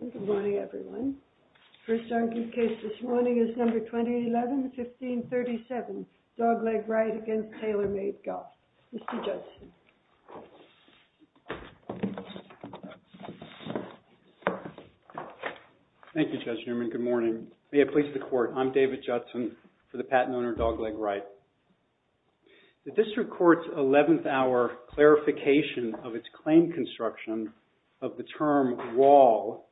Good morning everyone. The first argued case this morning is number 2011-1537, DOGLEG RIGHT v. TAYLORMADE GOLF. Mr. Judson. Thank you, Judge Newman. Good morning. May it please the Court, I'm David Judson for the patent owner DOGLEG RIGHT. The District Court's 11th hour clarification of its claim construction of the term wall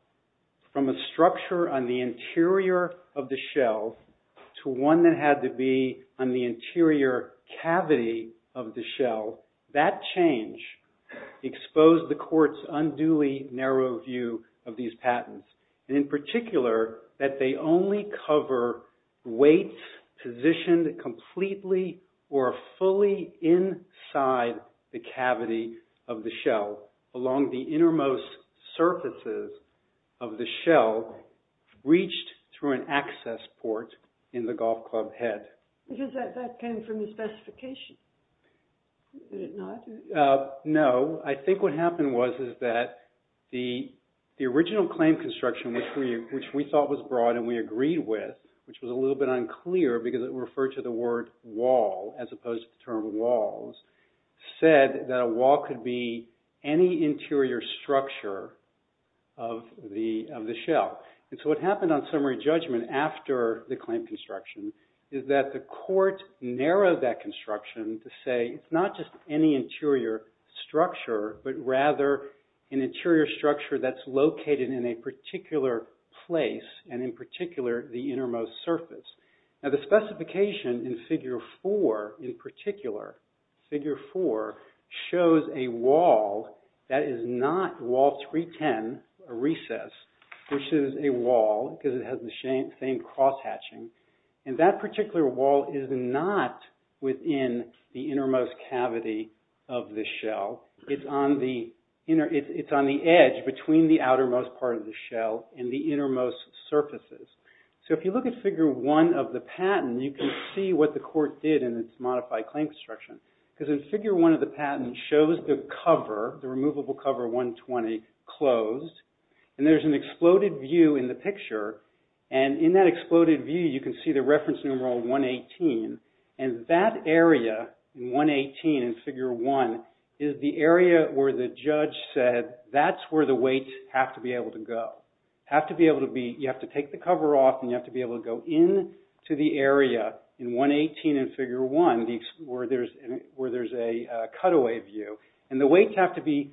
from a structure on the interior of the shell to one that had to be on the interior cavity of the shell, that change exposed the Court's unduly narrow view of these patents, and in particular that they only cover weights positioned completely or fully inside the cavity of the shell along the innermost surfaces of the shell reached through an access port in the golf club head. Because that came from the specification, did it not? No, I think what happened was that the original claim construction which we thought was broad and we agreed with, which was a little bit unclear because it referred to the word wall as opposed to the term walls, said that a wall could be any interior structure of the shell. And so what happened on summary judgment after the claim construction is that the Court narrowed that construction to say it's not just any interior structure, but rather an interior structure that's located in a particular place and in particular the innermost surface. Now the specification in figure four in particular, figure four, shows a wall that is not wall 310, a recess, which is a wall because it has the same cross hatching. And that particular wall is not within the innermost cavity of the shell. It's on the edge between the outermost part of the shell and the innermost surfaces. So if you look at figure one of the patent, you can see what the Court did in its modified claim construction. Because in figure one of the patent shows the cover, the removable cover 120, closed. And there's an exploded view in the picture. And in that exploded view, you can see the reference numeral 118. And that area, 118 in figure one, is the area where the judge said that's where the weight have to be able to go. You have to take the cover off and you have to be able to go in to the area in 118 in figure one where there's a cutaway view. And the weights have to be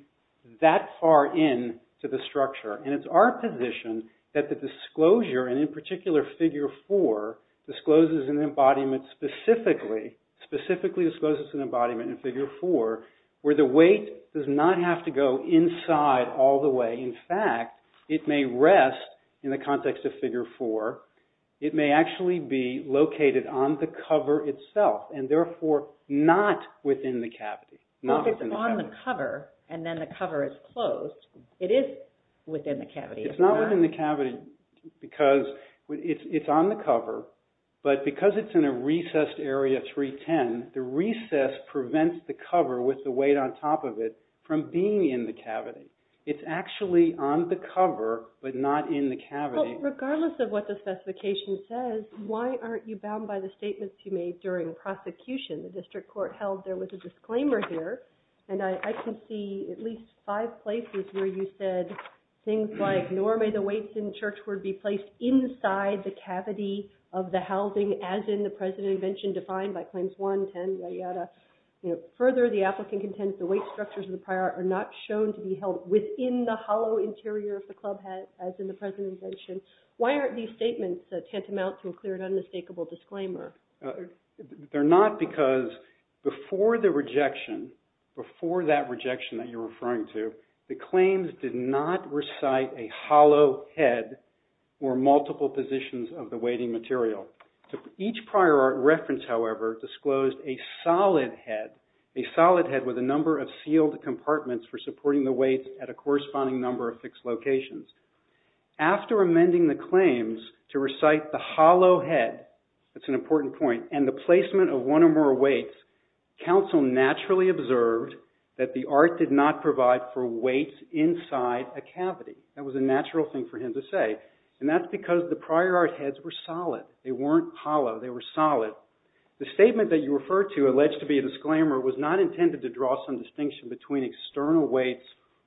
that far in to the structure. And it's our position that the disclosure, and in particular figure four, discloses an embodiment specifically, specifically discloses an embodiment in figure four, where the weight does not have to go inside all the way. In fact, it may rest in the context of figure four. It may actually be located on the cover itself and therefore not within the cavity. So if it's on the cover and then the cover is closed, it is within the cavity. It's not within the cavity because it's on the cover. But because it's in a recessed area 310, the recess prevents the cover with the weight on top of it from being in the cavity. It's actually on the cover but not in the cavity. Regardless of what the specification says, why aren't you bound by the statements you made during prosecution? The district court held there was a disclaimer here. And I can see at least five places where you said things like, nor may the weights in Churchward be placed inside the cavity of the housing as in the precedent invention defined by claims one, ten, yada, yada. Further, the applicant contends the weight structures of the prior art are not shown to be held within the hollow interior of the clubhead as in the precedent invention. Why aren't these statements tantamount to a clear and unmistakable disclaimer? They're not because before the rejection, before that rejection that you're referring to, the claims did not recite a hollow head or multiple positions of the weighting material. Each prior art reference, however, disclosed a solid head, a solid head with a number of sealed compartments for supporting the weights at a corresponding number of fixed locations. After amending the claims to recite the hollow head, that's an important point, and the placement of one or more weights, counsel naturally observed that the art did not provide for weights inside a cavity. That was a natural thing for him to say. That's because the prior art heads were solid. They weren't hollow. They were solid. The statement that you referred to alleged to be a disclaimer was not intended to draw some distinction between external weights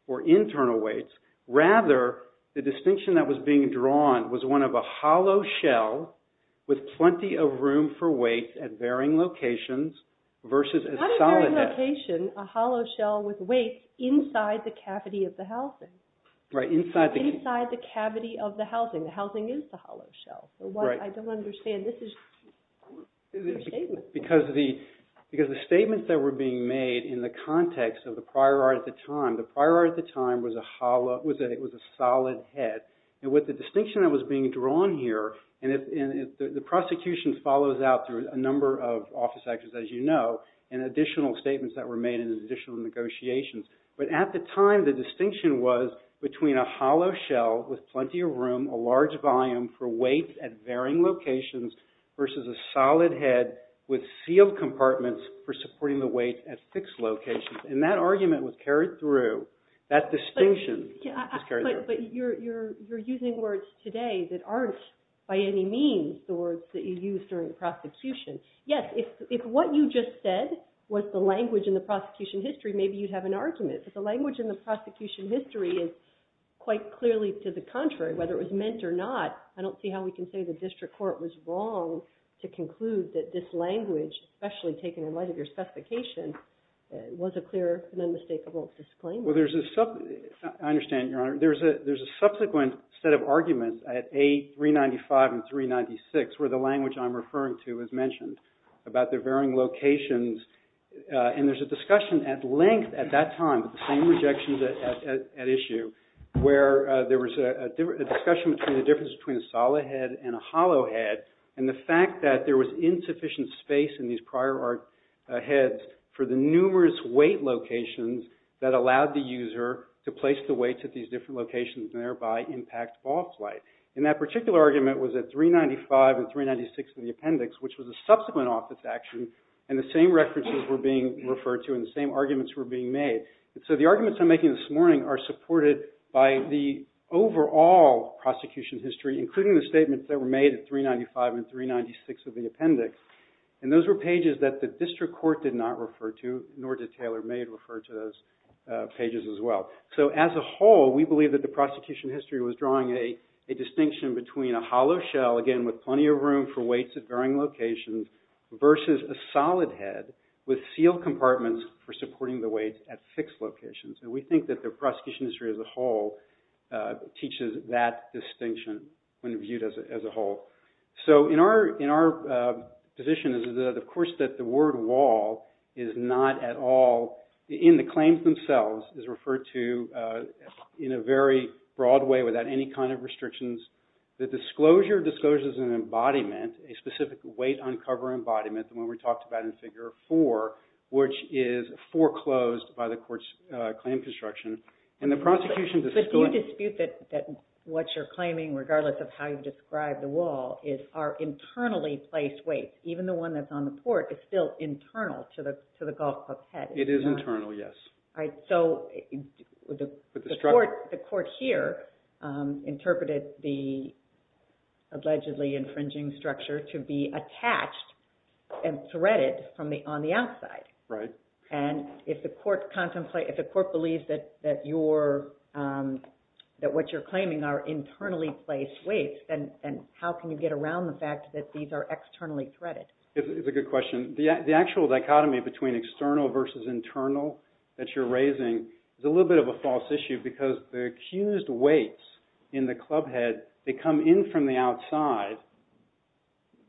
or internal weights. Rather, the distinction that was being drawn was one of a hollow shell with plenty of room for weight at varying locations versus a solid head. Not a varying location, a hollow shell with weights inside the cavity of the housing. Right, inside the cavity. The housing is the hollow shell. Right. I don't understand. This is your statement. Because the statements that were being made in the context of the prior art at the time, the prior art at the time was a solid head. And with the distinction that was being drawn here, and the prosecution follows out through a number of office actions, as you know, and additional statements that were made and additional negotiations. But at the time, the distinction was between a hollow shell with plenty of room, a large volume for weight at varying locations, versus a solid head with sealed compartments for supporting the weight at fixed locations. And that argument was carried through. That distinction was carried through. But you're using words today that aren't by any means the words that you used during the prosecution. Yes, if what you just said was the language in the prosecution history, maybe you'd have an argument. But the language in the prosecution history is quite clearly to the contrary, whether it was meant or not. I don't see how we can say the district court was wrong to conclude that this language, especially taken in light of your specification, was a clear and unmistakable disclaimer. Well, there's a – I understand, Your Honor. There's a subsequent set of arguments at A395 and 396, where the language I'm referring to is mentioned, about the varying locations. And there's a discussion at length at that time, the same rejections at issue, where there was a discussion between the difference between a solid head and a hollow head, and the fact that there was insufficient space in these prior heads for the numerous weight locations that allowed the user to place the weights at these different locations and thereby impact ball flight. And that particular argument was at 395 and 396 of the appendix, which was a subsequent office action, and the same references were being referred to and the same arguments were being made. So the arguments I'm making this morning are supported by the overall prosecution history, including the statements that were made at 395 and 396 of the appendix. And those were pages that the district court did not refer to, nor did Taylor Maid refer to those pages as well. So as a whole, we believe that the prosecution history was drawing a distinction between a hollow shell, again with plenty of room for weights at varying locations, versus a solid head with sealed compartments for supporting the weights at fixed locations. And we think that the prosecution history as a whole teaches that distinction when viewed as a whole. So in our position is, of course, that the word wall is not at all in the claims themselves, is referred to in a very broad way without any kind of restrictions. The disclosure disclosures an embodiment, a specific weight uncover embodiment, the one we talked about in Figure 4, which is foreclosed by the court's claim construction. But you dispute that what you're claiming, regardless of how you describe the wall, are internally placed weights. Even the one that's on the court is still internal to the golf club head. It is internal, yes. So the court here interpreted the allegedly infringing structure to be attached and threaded on the outside. And if the court believes that what you're claiming are internally placed weights, then how can you get around the fact that these are externally threaded? It's a good question. The actual dichotomy between external versus internal that you're raising is a little bit of a false issue because the accused weights in the club head, they come in from the outside,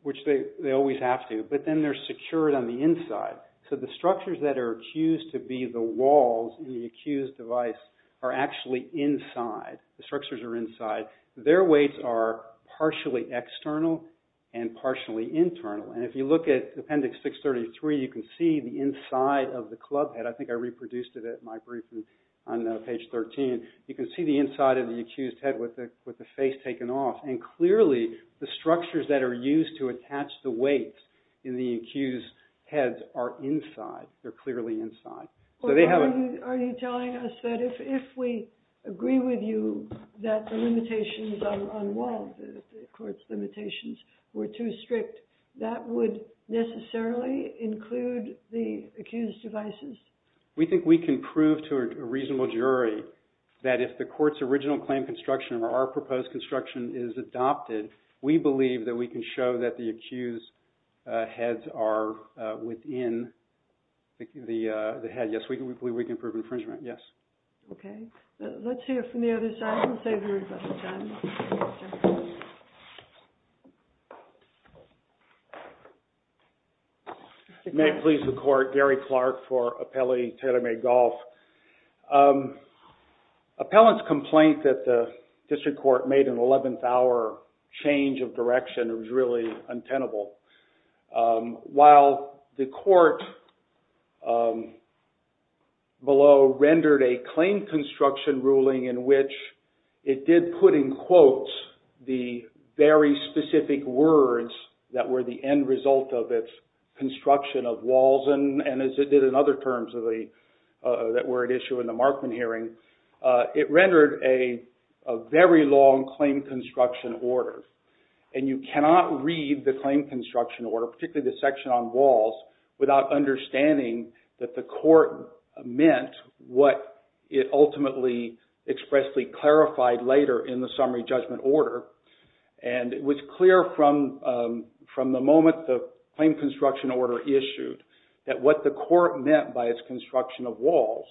which they always have to, but then they're secured on the inside. So the structures that are accused to be the walls in the accused device are actually inside. The structures are inside. Their weights are partially external and partially internal. And if you look at Appendix 633, you can see the inside of the club head. I think I reproduced it at my briefing on page 13. You can see the inside of the accused head with the face taken off. And clearly, the structures that are used to attach the weights in the accused heads are inside. They're clearly inside. Are you telling us that if we agree with you that the limitations on walls, the court's limitations were too strict, that would necessarily include the accused devices? We think we can prove to a reasonable jury that if the court's original claim construction or our proposed construction is adopted, we believe that we can show that the accused heads are within the head. Yes, we believe we can prove infringement. Yes. Okay. Let's hear from the other side. We'll save everybody time. May it please the court. Gary Clark for Appelli Terame Golf. Appellant's complaint that the district court made an eleventh-hour change of direction was really untenable. While the court below rendered a claim construction ruling in which it did put in quotes the very specific words that were the end result of its construction of walls, and as it did in other terms that were at issue in the Markman hearing, it rendered a very long claim construction order. And you cannot read the claim construction order, particularly the section on walls, without understanding that the court meant what it ultimately expressly clarified later in the summary judgment order. And it was clear from the moment the claim construction order issued that what the court meant by its construction of walls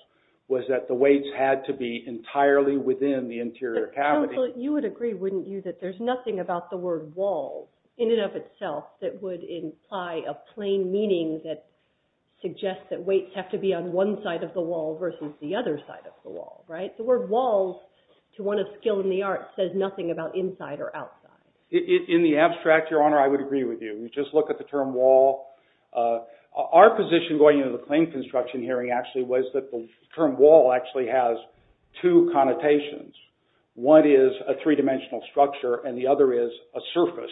was that the weights had to be entirely within the interior cavity. Counsel, you would agree, wouldn't you, that there's nothing about the word wall in and of itself that would imply a plain meaning that suggests that weights have to be on one side of the wall versus the other side of the wall, right? The word walls, to one of skill in the arts, says nothing about inside or outside. In the abstract, Your Honor, I would agree with you. You just look at the term wall. Our position going into the claim construction hearing actually was that the term wall actually has two connotations. One is a three-dimensional structure, and the other is a surface.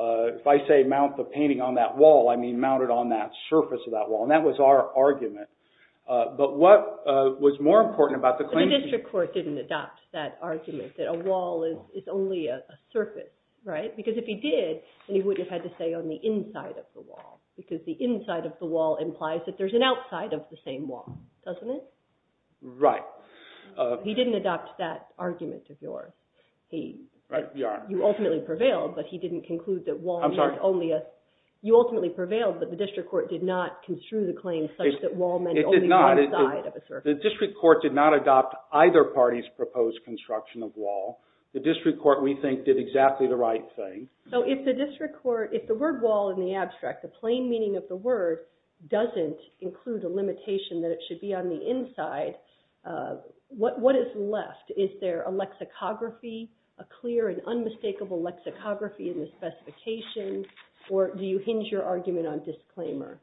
If I say mount the painting on that wall, I mean mount it on that surface of that wall, and that was our argument. But what was more important about the claim? The district court didn't adopt that argument, that a wall is only a surface, right? Because if he did, then he would have had to say on the inside of the wall, because the inside of the wall implies that there's an outside of the same wall, doesn't it? Right. He didn't adopt that argument of yours. Right, Your Honor. You ultimately prevailed, but he didn't conclude that wall was only a… I'm sorry? You ultimately prevailed, but the district court did not construe the claim such that wall meant only one side of a surface. It did not. The district court did not adopt either party's proposed construction of wall. The district court, we think, did exactly the right thing. So if the district court, if the word wall in the abstract, the plain meaning of the word, doesn't include a limitation that it should be on the inside, what is left? Is there a lexicography, a clear and unmistakable lexicography in the specification, or do you hinge your argument on disclaimer?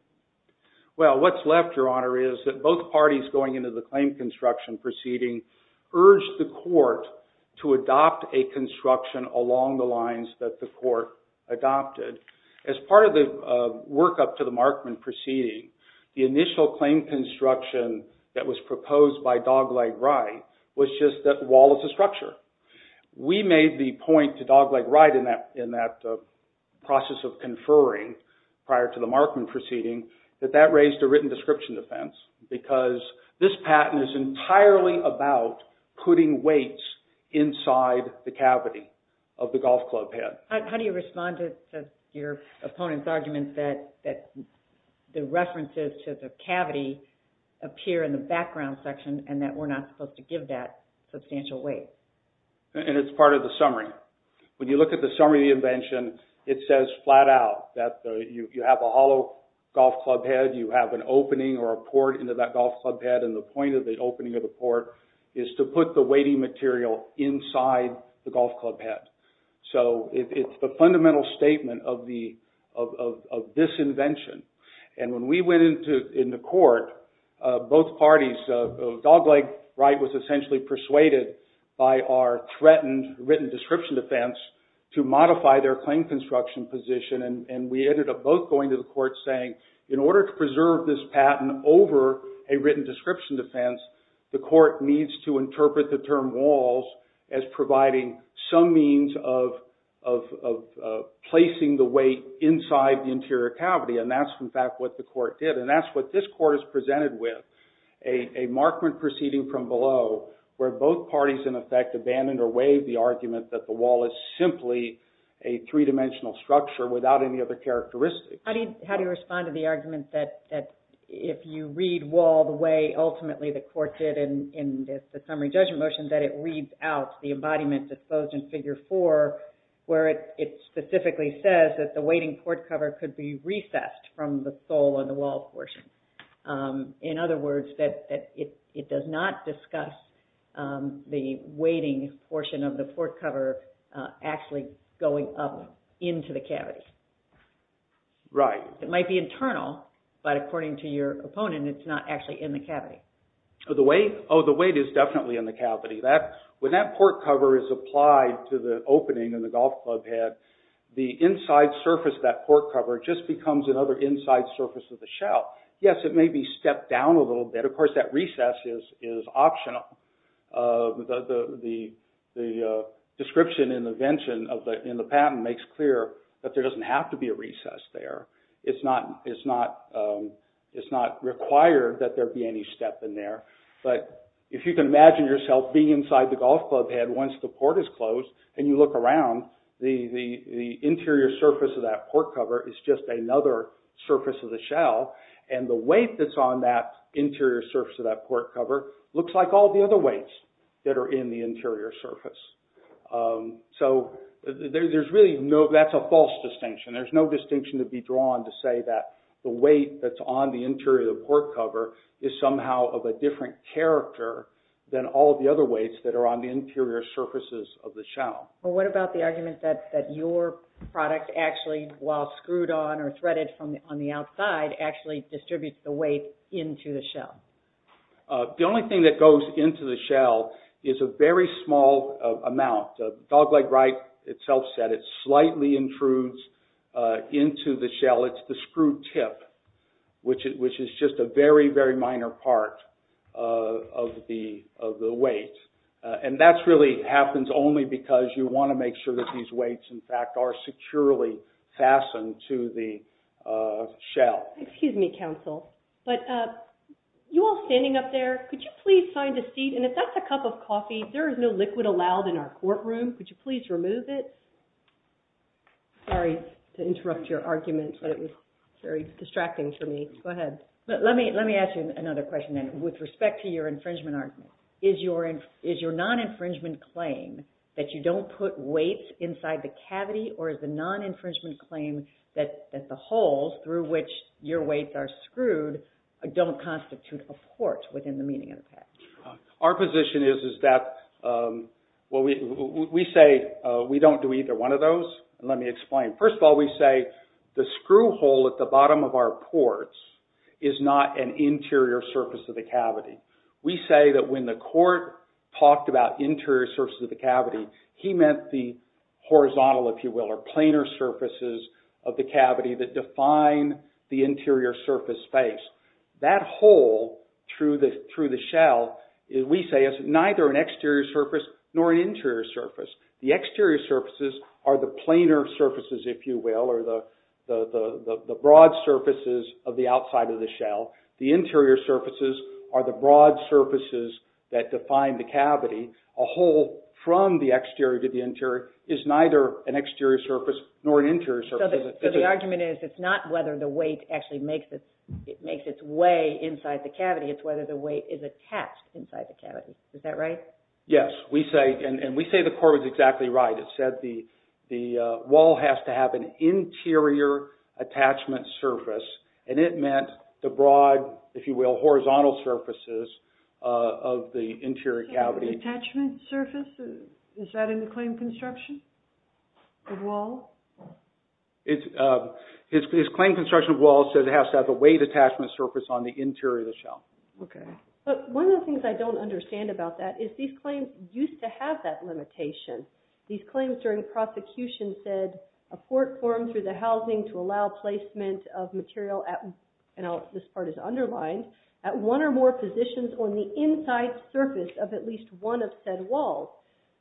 Well, what's left, Your Honor, is that both parties going into the claim construction proceeding urged the court to adopt a construction along the lines that the court adopted. As part of the workup to the Markman proceeding, the initial claim construction that was proposed by Dogleg Wright was just that wall is a structure. We made the point to Dogleg Wright in that process of conferring prior to the Markman proceeding that that raised a written description defense because this patent is entirely about putting weights inside the cavity of the golf club head. How do you respond to your opponent's argument that the references to the cavity appear in the background section and that we're not supposed to give that substantial weight? And it's part of the summary. When you look at the summary of the invention, it says flat out that you have a hollow golf club head, you have an opening or a port into that golf club head, and the point of the opening of the port is to put the weighting material inside the golf club head. So it's the fundamental statement of this invention. And when we went into court, both parties, Dogleg Wright was essentially persuaded by our threatened written description defense to modify their claim construction position and we ended up both going to the court saying, in order to preserve this patent over a written description defense, the court needs to interpret the term walls as providing some means of placing the weight inside the interior cavity and that's in fact what the court did. And that's what this court is presented with, a markment proceeding from below where both parties in effect abandoned or waived the argument that the wall is simply a three-dimensional structure without any other characteristics. How do you respond to the argument that if you read wall the way ultimately the court did in the summary judgment motion that it reads out the embodiment disposed in figure four where it specifically says that the weighting port cover could be recessed from the sole on the wall portion. In other words, it does not discuss the weighting portion of the port cover actually going up into the cavity. Right. It might be internal, but according to your opponent, it's not actually in the cavity. When that port cover is applied to the opening in the golf club head, the inside surface of that port cover just becomes another inside surface of the shell. Yes, it may be stepped down a little bit. Of course, that recess is optional. The description in the invention in the patent makes clear that there doesn't have to be a recess there. It's not required that there be any step in there. If you can imagine yourself being inside the golf club head once the port is closed and you look around, the interior surface of that port cover is just another surface of the shell. The weight that's on that interior surface of that port cover looks like all the other weights that are in the interior surface. That's a false distinction. There's no distinction to be drawn to say that the weight that's on the interior of the port cover is somehow of a different character than all of the other weights that are on the interior surfaces of the shell. What about the argument that your product actually, while screwed on or threaded on the outside, actually distributes the weight into the shell? The only thing that goes into the shell is a very small amount. Dogleg Wright itself said it slightly intrudes into the shell. It's the screw tip, which is just a very, very minor part of the weight. That really happens only because you want to make sure that these weights, in fact, are securely fastened to the shell. Excuse me, counsel. You all standing up there, could you please find a seat? If that's a cup of coffee, there is no liquid allowed in our courtroom. Could you please remove it? Sorry to interrupt your argument, but it was very distracting for me. Go ahead. Let me ask you another question, then, with respect to your infringement argument. Is your non-infringement claim that you don't put weights inside the cavity, or is the non-infringement claim that the holes through which your weights are screwed Our position is that we say we don't do either one of those. Let me explain. First of all, we say the screw hole at the bottom of our ports is not an interior surface of the cavity. We say that when the court talked about interior surfaces of the cavity, he meant the horizontal, if you will, or planar surfaces of the cavity that define the interior surface space. That hole through the shell, we say, is neither an exterior surface nor an interior surface. The exterior surfaces are the planar surfaces, if you will, or the broad surfaces of the outside of the shell. The interior surfaces are the broad surfaces that define the cavity. A hole from the exterior to the interior is neither an exterior surface nor an interior surface. So the argument is, it's not whether the weight actually makes its way inside the cavity, it's whether the weight is attached inside the cavity. Is that right? Yes. And we say the court was exactly right. It said the wall has to have an interior attachment surface, and it meant the broad, if you will, horizontal surfaces of the interior cavity. Attachment surface? Is that in the claim construction of walls? His claim construction of walls says it has to have a weight attachment surface on the interior of the shell. Okay. But one of the things I don't understand about that is these claims used to have that limitation. These claims during prosecution said a court formed through the housing to allow placement of material at, and this part is underlined, at one or more positions on the inside surface of at least one of said walls.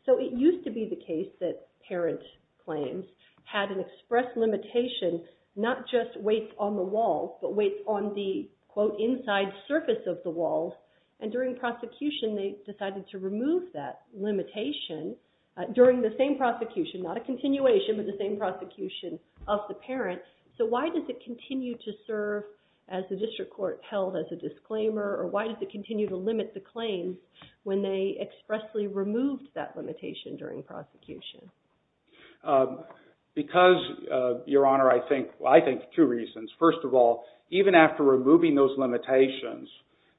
So it used to be the case that parent claims had an express limitation, not just weights on the walls, but weights on the, quote, inside surface of the walls. And during prosecution, they decided to remove that limitation during the same prosecution, not a continuation, but the same prosecution of the parent. So why does it continue to serve as the district court held as a disclaimer, or why does it continue to limit the claims when they expressly removed that limitation during prosecution? Because, Your Honor, I think two reasons. First of all, even after removing those limitations,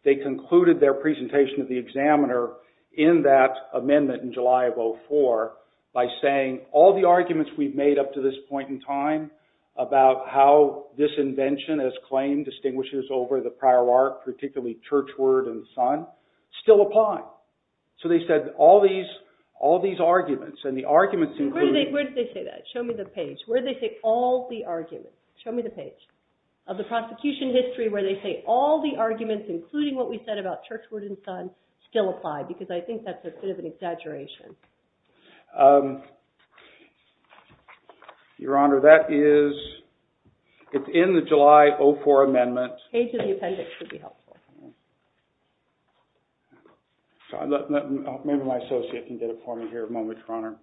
they concluded their presentation to the examiner in that amendment in July of 2004 by saying all the arguments we've made up to this point in time about how this invention as claimed distinguishes over the prior art, particularly churchward and son, still apply. So they said all these arguments, and the arguments include... Where did they say that? Show me the page. Where did they say all the arguments? Show me the page of the prosecution history where they say all the arguments, including what we said about churchward and son, still apply, because I think that's a bit of an exaggeration. Your Honor, that is... It's in the July 04 amendment. Page of the appendix would be helpful. Maybe my associate can get it for me here a moment, Your Honor.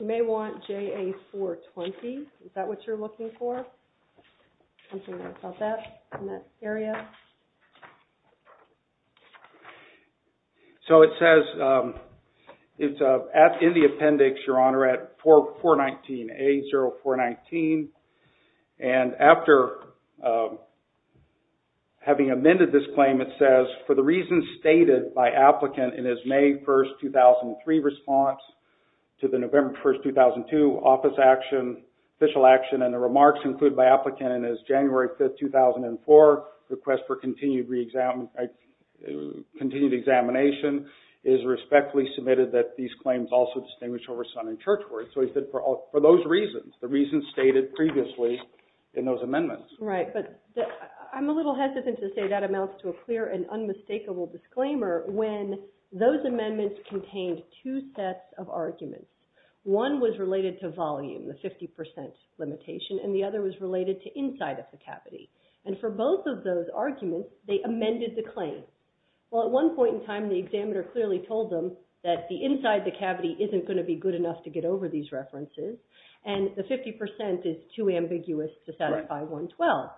You may want JA 420. Is that what you're looking for? Something about that, in that area? So it says, it's in the appendix, Your Honor, at 419, A0419. And after having amended this claim, it says, for the reasons stated by applicant in his May 1, 2003 response to the November 1, 2002 office action, and the remarks included by applicant in his January 5, 2004 request for continued examination, it is respectfully submitted that these claims also distinguish over son and churchward. So he said for those reasons, the reasons stated previously in those amendments. Right, but I'm a little hesitant to say that amounts to a clear and unmistakable disclaimer when those amendments contained two sets of arguments. One was related to volume, the 50% limitation, and the other was related to inside of the cavity. And for both of those arguments, they amended the claim. Well, at one point in time, the examiner clearly told them that the inside of the cavity isn't going to be good enough to get over these references, and the 50% is too ambiguous to satisfy 112.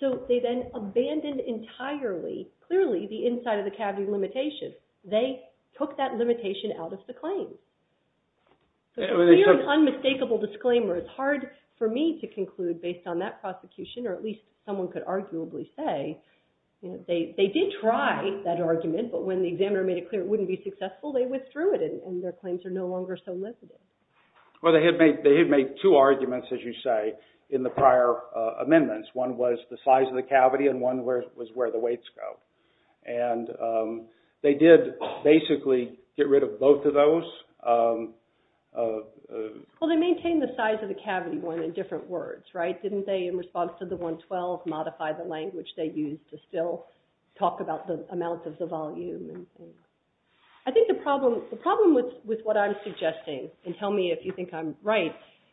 So they then abandoned entirely, clearly, the inside of the cavity limitation. They took that limitation out of the claim. So it's a clear and unmistakable disclaimer. It's hard for me to conclude based on that prosecution, or at least someone could arguably say, they did try that argument, but when the examiner made it clear it wouldn't be successful, they withdrew it, and their claims are no longer so limited. Well, they had made two arguments, as you say, in the prior amendments. One was the size of the cavity, and one was where the weights go. And they did basically get rid of both of those. Well, they maintained the size of the cavity in different words, right? Didn't they, in response to the 112, modify the language they used to still talk about the amount of the volume? I think the problem with what I'm suggesting, and tell me if you think I'm right,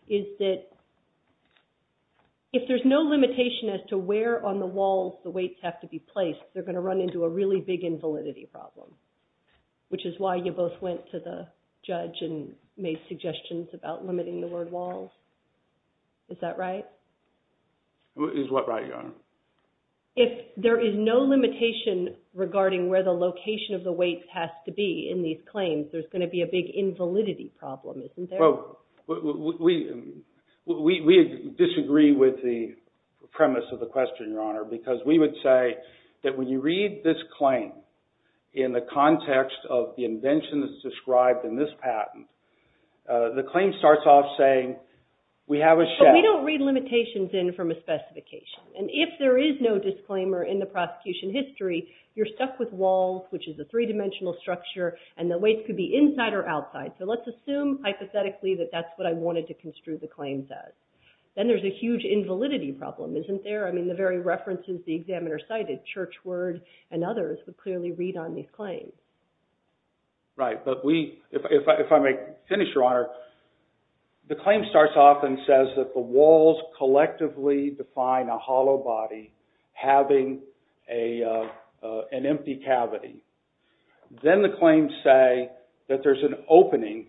is that if there's no limitation as to where on the walls the weights have to be placed, they're going to run into a really big invalidity problem, which is why you both went to the judge and made suggestions about limiting the word walls. Is that right? Is what right, Your Honor? If there is no limitation regarding where the location of the weights has to be in these claims, there's going to be a big invalidity problem, isn't there? Because we would say that when you read this claim, in the context of the invention that's described in this patent, the claim starts off saying, we have a shed. But we don't read limitations in from a specification. And if there is no disclaimer in the prosecution history, you're stuck with walls, which is a three-dimensional structure, and the weights could be inside or outside. So let's assume, hypothetically, that that's what I wanted to construe the claims as. Then there's a huge invalidity problem, isn't there? I mean, the very references the examiner cited, Churchward and others, would clearly read on these claims. Right, but if I may finish, Your Honor, the claim starts off and says that the walls collectively define a hollow body having an empty cavity. Then the claims say that there's an opening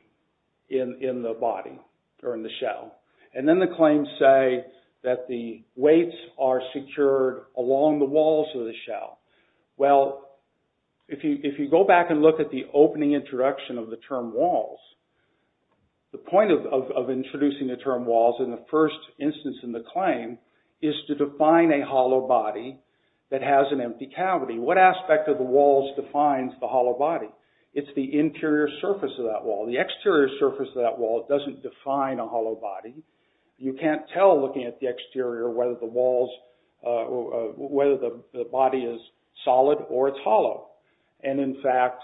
in the body, or in the shell. And then the claims say that the weights are secured along the walls of the shell. Well, if you go back and look at the opening introduction of the term walls, the point of introducing the term walls in the first instance in the claim is to define a hollow body that has an empty cavity. What aspect of the walls defines the hollow body? It's the interior surface of that wall. The exterior surface of that wall doesn't define a hollow body. You can't tell, looking at the exterior, whether the body is solid or it's hollow. And, in fact,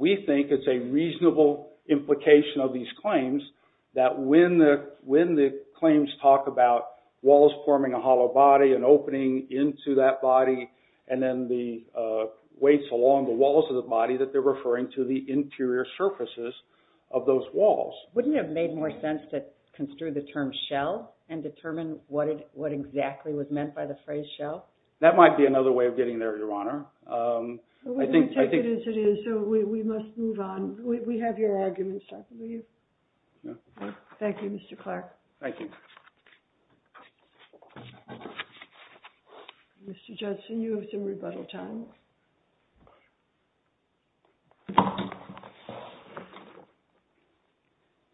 we think it's a reasonable implication of these claims that when the claims talk about walls forming a hollow body and opening into that body and then the weights along the walls of the body, that they're referring to the interior surfaces of those walls. Wouldn't it have made more sense to construe the term shell and determine what exactly was meant by the phrase shell? That might be another way of getting there, Your Honor. We'll take it as it is, so we must move on. We have your arguments. Thank you, Mr. Clark. Thank you. Mr. Judson, you have some rebuttal time.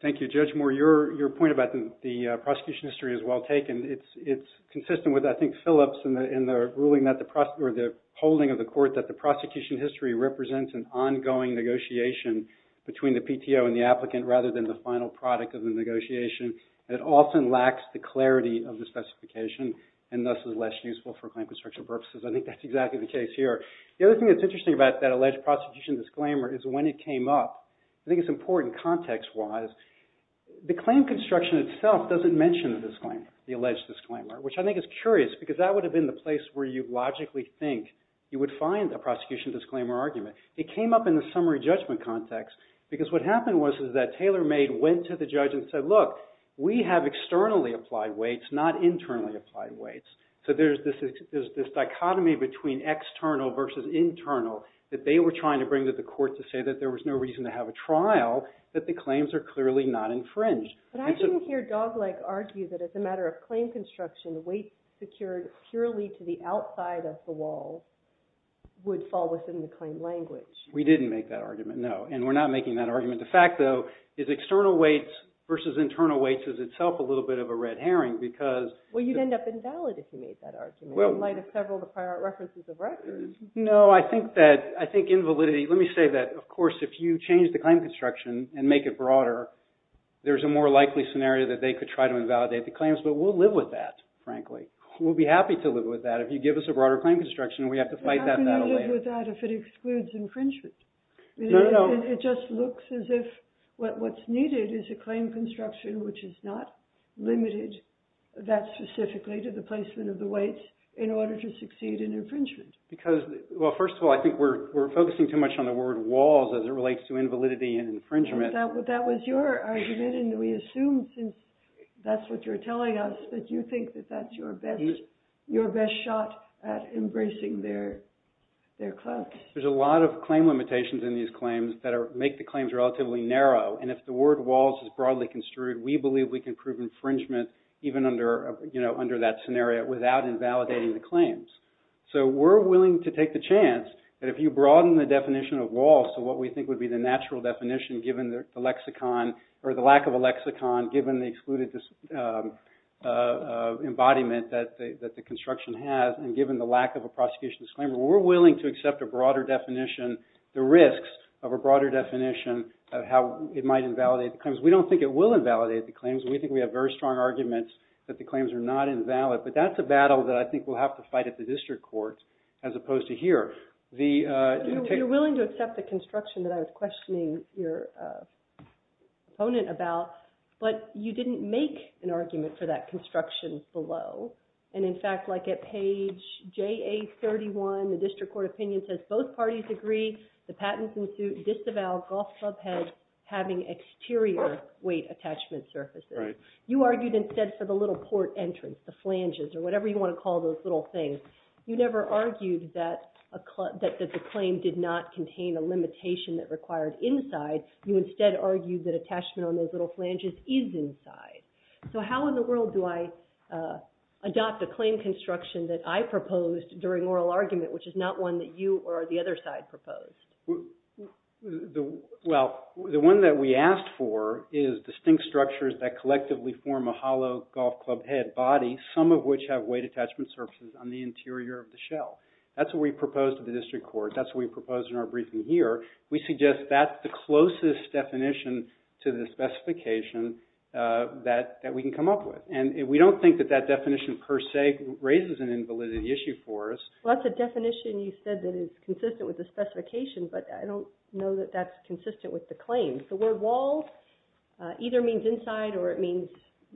Thank you, Judge Moore. Your point about the prosecution history is well taken. It's consistent with, I think, Phillips in the ruling or the holding of the court that the prosecution history represents an ongoing negotiation between the PTO and the applicant rather than the final product of the negotiation. It often lacks the clarity of the specification and thus is less useful for claim construction purposes. I think that's exactly the case here. The other thing that's interesting about that alleged prosecution disclaimer is when it came up. I think it's important context-wise. The claim construction itself doesn't mention the disclaimer, the alleged disclaimer, which I think is curious because that would have been the place where you logically think you would find a prosecution disclaimer argument. It came up in the summary judgment context because what happened was that TaylorMade went to the judge and said, look, we have externally applied weights, not internally applied weights. So there's this dichotomy between external versus internal that they were trying to bring to the court to say that there was no reason to have a trial, that the claims are clearly not infringed. But I didn't hear Dogleg argue that as a matter of claim construction, weights secured purely to the outside of the wall would fall within the claim language. We didn't make that argument, no. And we're not making that argument. The fact, though, is external weights versus internal weights is itself a little bit of a red herring because... Well, you'd end up invalid if you made that argument in light of several of the prior references of records. No, I think that, I think invalidity... Let me say that, of course, if you change the claim construction and make it broader, there's a more likely scenario that they could try to invalidate the claims, but we'll live with that, frankly. We'll be happy to live with that. If you give us a broader claim construction, we have to fight that battle later. How can you live with that if it excludes infringement? It just looks as if what's needed is a claim construction which is not limited that specifically to the placement of the weights in order to succeed in infringement. Because, well, first of all, I think we're focusing too much on the word walls as it relates to invalidity and infringement. That was your argument, and we assume, since that's what you're telling us, that you think that that's your best shot at embracing their claims. There's a lot of claim limitations in these claims that make the claims relatively narrow, and if the word walls is broadly construed, we believe we can prove infringement even under that scenario without invalidating the claims. So we're willing to take the chance that if you broaden the definition of walls to what we think would be the natural definition given the lack of a lexicon, given the excluded embodiment that the construction has, and given the lack of a prosecution disclaimer, we're willing to accept a broader definition, the risks of a broader definition of how it might invalidate the claims. We don't think it will invalidate the claims. We think we have very strong arguments that the claims are not invalid, but that's a battle that I think we'll have to fight at the district court as opposed to here. You're willing to accept the construction that I was questioning your opponent about, but you didn't make an argument for that construction below. And in fact, like at page JA31, the district court opinion says both parties agree the patent can disavow golf club heads having exterior weight attachment surfaces. You argued instead for the little port entrance, the flanges, or whatever you want to call those little things. You never argued that the claim did not contain a limitation that required inside. You instead argued that attachment on those little flanges is inside. So how in the world do I adopt a claim construction that I proposed during oral argument, which is not one that you or the other side proposed? Well, the one that we asked for is distinct structures that collectively form a hollow golf club head body, some of which have weight attachment surfaces on the interior of the shell. That's what we proposed to the district court. That's what we proposed in our briefing here. We suggest that's the closest definition to the specification that we can come up with. And we don't think that that definition per se raises an invalidity issue for us. Well, that's a definition you said that is consistent with the specification, but I don't know that that's consistent with the claim. The word walls either means inside or it means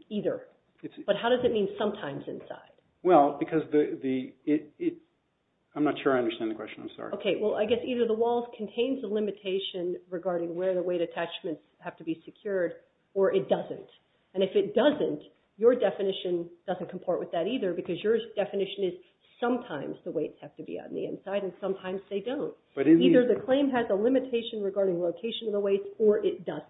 either. But how does it mean sometimes inside? Well, because the... I'm not sure I understand the question. I'm sorry. Okay, well, I guess either the walls contains a limitation regarding where the weight attachments have to be secured, or it doesn't. And if it doesn't, your definition doesn't comport with that either because your definition is sometimes the weights have to be on the inside and sometimes they don't. Either the claim has a limitation regarding location of the weights or it doesn't.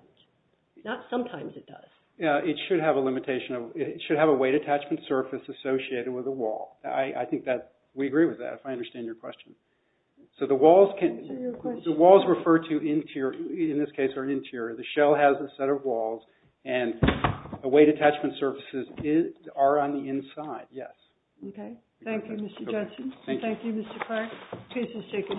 Not sometimes it does. Yeah, it should have a limitation. It should have a weight attachment surface associated with a wall. I think that we agree with that, if I understand your question. So the walls refer to interior, in this case our interior. The shell has a set of walls and the weight attachment surfaces are on the inside, yes. Okay. Thank you, Mr. Judson. Thank you, Mr. Clark. The case is taken into submission.